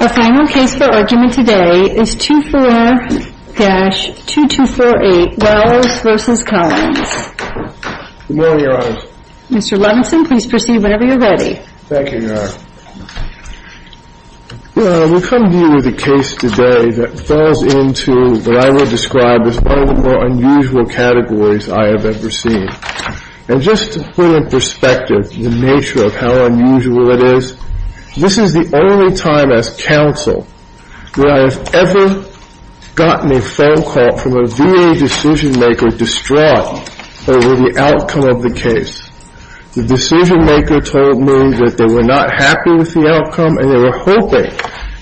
A final case for argument today is 2-4-2248 Wells v. Collins. Good morning, Your Honor. Mr. Robinson, please proceed whenever you're ready. Thank you, Your Honor. Well, we come to you with a case today that falls into what I would describe as one of the more unusual categories I have ever seen. And just to put in perspective the nature of how unusual it is, this is the only time as counsel that I have ever gotten a phone call from a VA decision-maker distraught over the outcome of the case. The decision-maker told me that they were not happy with the outcome and they were hoping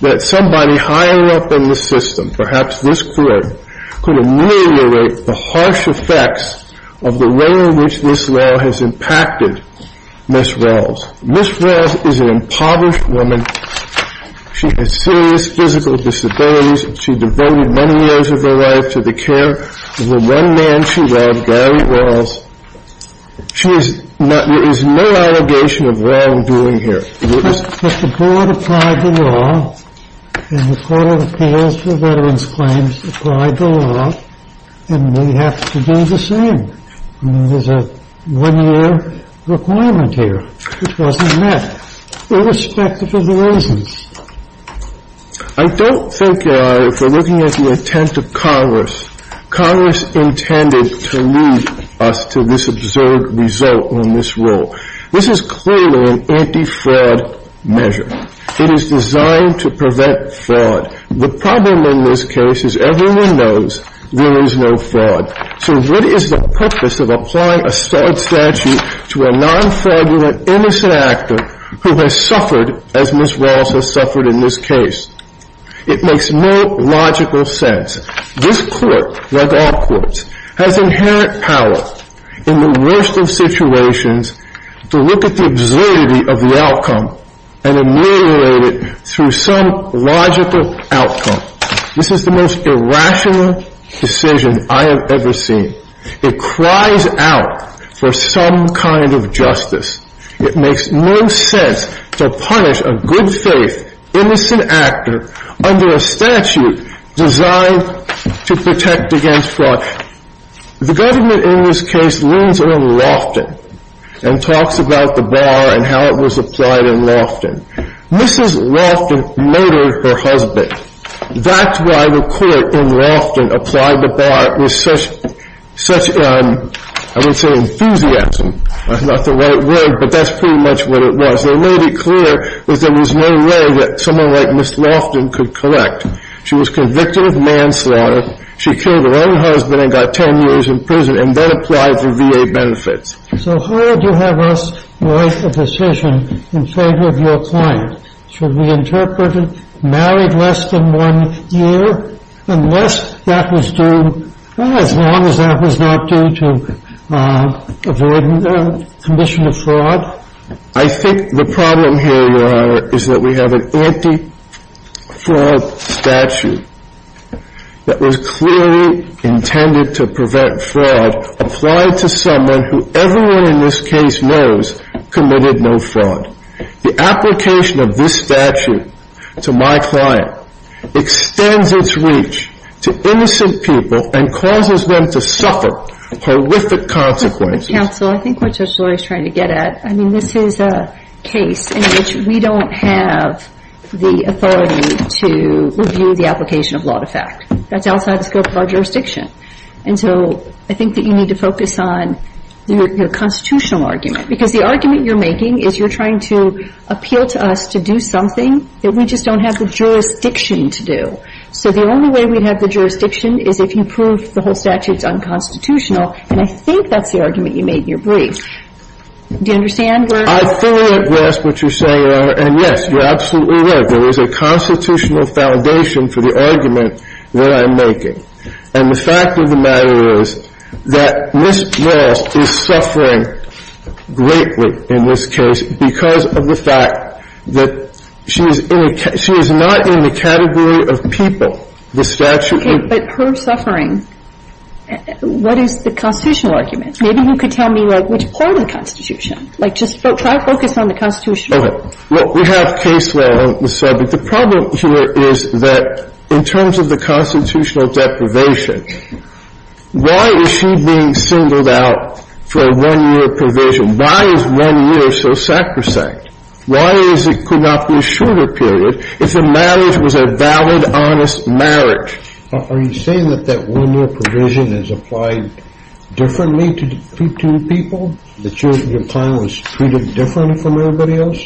that somebody higher up in the system, perhaps this court, could ameliorate the harsh effects of the way in which this law has impacted Ms. Wells. Ms. Wells is an impoverished woman. She has serious physical disabilities. She devoted many years of her life to the care of the one man she loved, Gary Wells. There is no allegation of wrongdoing here. But the board applied the law, and the Court of Appeals for Veterans Claims applied the law, and we have to do the same. There's a one-year requirement here, which wasn't met, irrespective of the reasons. I don't think, Your Honor, if we're looking at the intent of Congress, Congress intended to lead us to this absurd result in this rule. This is clearly an anti-fraud measure. It is designed to prevent fraud. The problem in this case is everyone knows there is no fraud. So what is the purpose of applying a fraud statute to a non-fraudulent, innocent actor who has suffered as Ms. Wells has suffered in this case? It makes no logical sense. This court, like all courts, has inherent power in the worst of situations to look at the absurdity of the outcome and ameliorate it through some logical outcome. This is the most irrational decision I have ever seen. It cries out for some kind of justice. It makes no sense to punish a good-faith, innocent actor under a statute designed to protect against fraud. The government in this case leans on Loftin and talks about the bar and how it was applied in Loftin. Mrs. Loftin murdered her husband. That's why the court in Loftin applied the bar with such, I wouldn't say enthusiasm. That's not the right word, but that's pretty much what it was. They made it clear that there was no way that someone like Ms. Loftin could collect. She was convicted of manslaughter. She killed her own husband and got 10 years in prison and then applied for VA benefits. So how would you have us make a decision in favor of your client? Should we interpret married less than one year unless that was due, as long as that was not due to avoid commission of fraud? I think the problem here, Your Honor, is that we have an anti-fraud statute that was clearly intended to prevent fraud applied to someone who everyone in this case knows committed no fraud. The application of this statute to my client extends its reach to innocent people and causes them to suffer horrific consequences. Counsel, I think what Judge Loehr is trying to get at, I mean, this is a case in which we don't have the authority to review the application of law to fact. That's outside the scope of our jurisdiction. And so I think that you need to focus on your constitutional argument, because the argument you're making is you're trying to appeal to us to do something that we just don't have the jurisdiction to do. So the only way we'd have the jurisdiction is if you prove the whole statute's unconstitutional. And I think that's the argument you made in your brief. Do you understand where we're at? I fully grasp what you're saying, Your Honor. And, yes, you're absolutely right. There is a constitutional foundation for the argument that I'm making. And the fact of the matter is that Ms. Walsh is suffering greatly in this case because of the fact that she is not in the category of people. Okay. But her suffering, what is the constitutional argument? Maybe you could tell me, like, which part of the Constitution? Like, just try to focus on the Constitution. Okay. Well, we have case law on the subject. But the problem here is that in terms of the constitutional deprivation, why is she being singled out for a one-year provision? Why is one year so sacrosanct? Why is it could not be a shorter period if the marriage was a valid, honest marriage? Are you saying that that one-year provision is applied differently to people, that your client was treated differently from everybody else?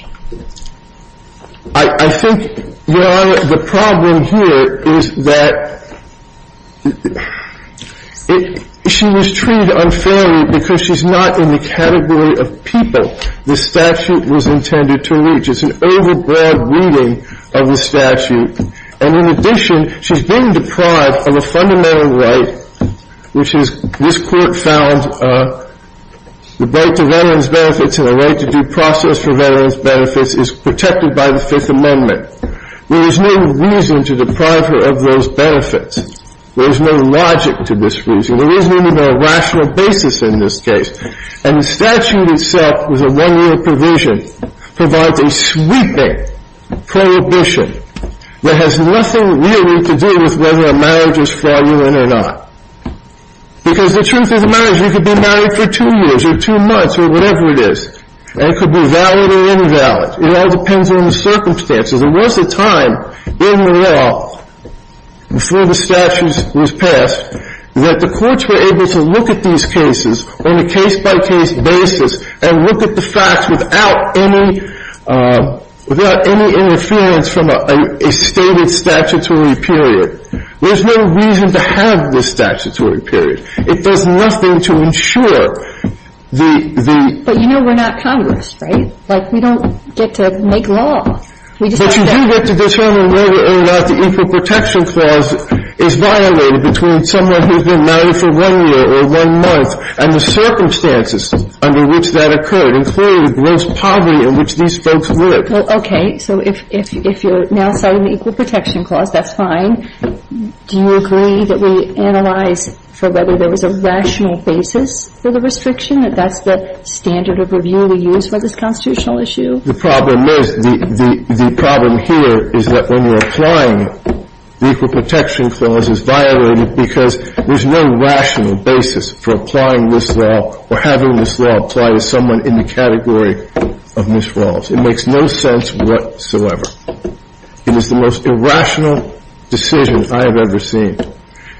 I think, Your Honor, the problem here is that she was treated unfairly because she's not in the category of people the statute was intended to reach. It's an overbroad reading of the statute. And in addition, she's been deprived of a fundamental right, which is, this Court found, the right to veterans' benefits and the right to due process for veterans' benefits is protected by the Fifth Amendment. There is no reason to deprive her of those benefits. There is no logic to this reason. There isn't even a rational basis in this case. And the statute itself, with a one-year provision, provides a sweeping prohibition that has nothing really to do with whether a marriage is fraudulent or not. Because the truth of the matter is, you could be married for two years or two months or whatever it is, and it could be valid or invalid. It all depends on the circumstances. There was a time in the law before the statute was passed that the courts were able to look at these cases on a case-by-case basis and look at the facts without any interference from a stated statutory period. There's no reason to have this statutory period. It does nothing to ensure the — But you know we're not Congress, right? Like, we don't get to make law. But you do get to determine whether or not the Equal Protection Clause is violated between someone who's been married for one year or one month and the circumstances under which that occurred, including the gross poverty in which these folks lived. Okay. So if you're now citing the Equal Protection Clause, that's fine. Do you agree that we analyze for whether there was a rational basis for the restriction, that that's the standard of review we use for this constitutional issue? The problem is — the problem here is that when you're applying it, the Equal Protection Clause is violated because there's no rational basis for applying this law or having this law apply to someone in the category of Ms. Rawls. It makes no sense whatsoever. It is the most irrational decision I have ever seen.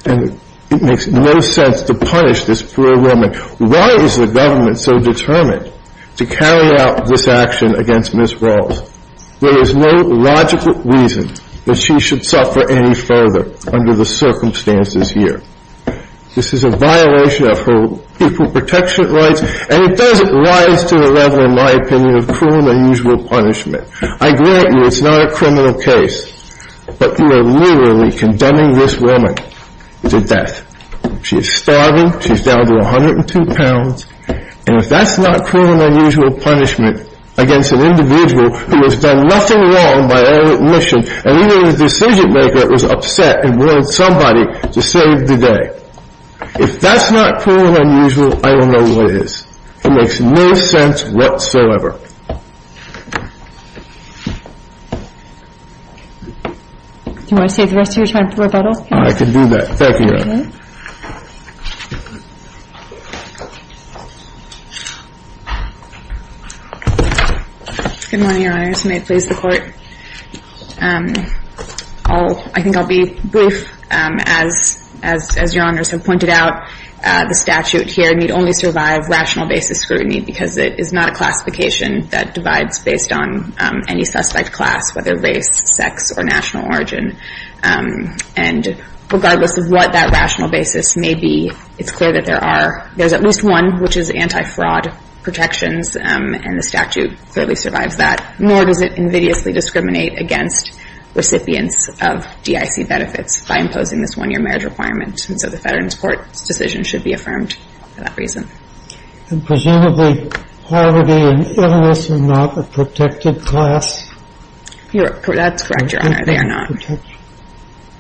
And it makes no sense to punish this for a moment. Why is the government so determined to carry out this action against Ms. Rawls? There is no logical reason that she should suffer any further under the circumstances here. This is a violation of her equal protection rights, and it doesn't rise to the level, in my opinion, of cruel and unusual punishment. I grant you it's not a criminal case, but you are literally condemning this woman to death. She is starving. She's down to 102 pounds. And if that's not cruel and unusual punishment against an individual who has done nothing wrong by her own admission, and even the decision-maker was upset and wanted somebody to save the day, if that's not cruel and unusual, I don't know what is. It makes no sense whatsoever. Do you want to save the rest of your time for rebuttal? I can do that. Thank you, Your Honor. Good morning, Your Honors. May it please the Court. I think I'll be brief. As Your Honors have pointed out, the statute here need only survive rational basis scrutiny because it is not a classification that divides based on any suspect class, whether race, sex, or national origin. And regardless of what that rational basis may be, it's clear that there are, there's at least one which is anti-fraud protections, and the statute clearly survives that. Nor does it invidiously discriminate against recipients of DIC benefits by imposing this one-year marriage requirement. And so the Veterans Court's decision should be affirmed for that reason. And presumably, poverty and illness are not a protected class? That's correct, Your Honor. They are not.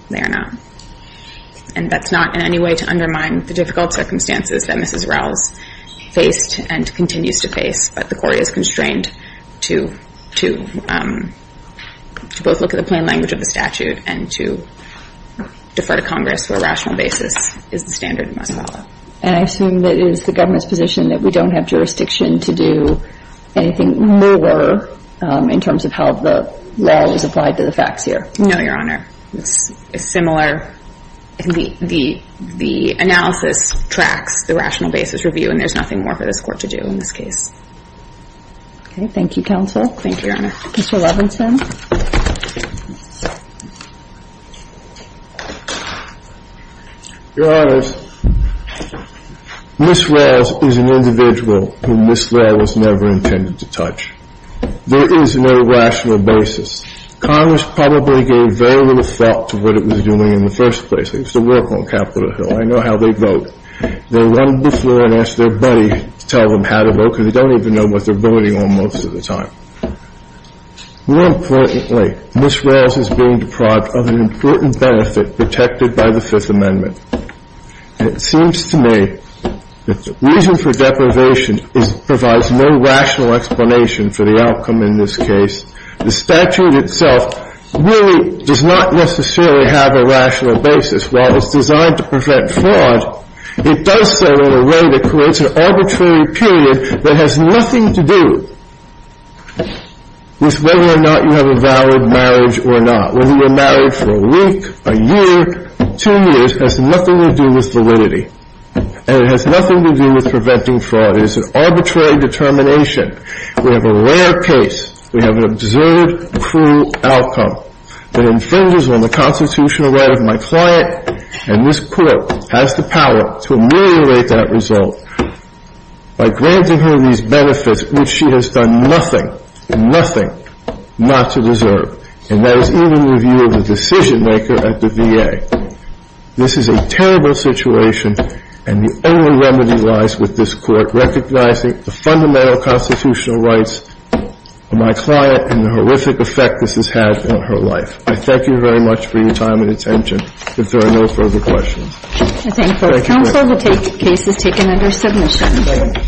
They are not. And that's not in any way to undermine the difficult circumstances that Mrs. Rouse faced and continues to face, but the Court is constrained to both look at the plain language of the statute and to defer to Congress where rational basis is the standard must follow. And I assume that it is the government's position that we don't have jurisdiction to do anything more in terms of how the law is applied to the facts here. No, Your Honor. It's similar. The analysis tracks the rational basis review, and there's nothing more for this Court to do in this case. Okay. Thank you, Counsel. Thank you, Your Honor. Mr. Levinson. Your Honor, Mrs. Rouse is an individual whom this law was never intended to touch. There is no rational basis. Congress probably gave very little thought to what it was doing in the first place. They used to work on Capitol Hill. I know how they vote. They run before and ask their buddy to tell them how to vote because they don't even know what they're voting on most of the time. More importantly, Mrs. Rouse is being deprived of an important benefit protected by the Fifth Amendment. And it seems to me that the reason for deprivation provides no rational explanation for the outcome in this case. The statute itself really does not necessarily have a rational basis. While it's designed to prevent fraud, it does so in a way that creates an arbitrary period that has nothing to do with whether or not you have a valid marriage or not. Whether you're married for a week, a year, two years, has nothing to do with validity. And it has nothing to do with preventing fraud. It is an arbitrary determination. We have a rare case. We have an observed cruel outcome that infringes on the constitutional right of my client. And this court has the power to ameliorate that result by granting her these benefits, which she has done nothing, nothing not to deserve. And that is even the view of the decision-maker at the VA. This is a terrible situation, and the only remedy lies with this court recognizing the fundamental constitutional rights of my client and the horrific effect this has had on her life. I thank you very much for your time and attention. If there are no further questions. I thank both counsel. The case is taken under submission.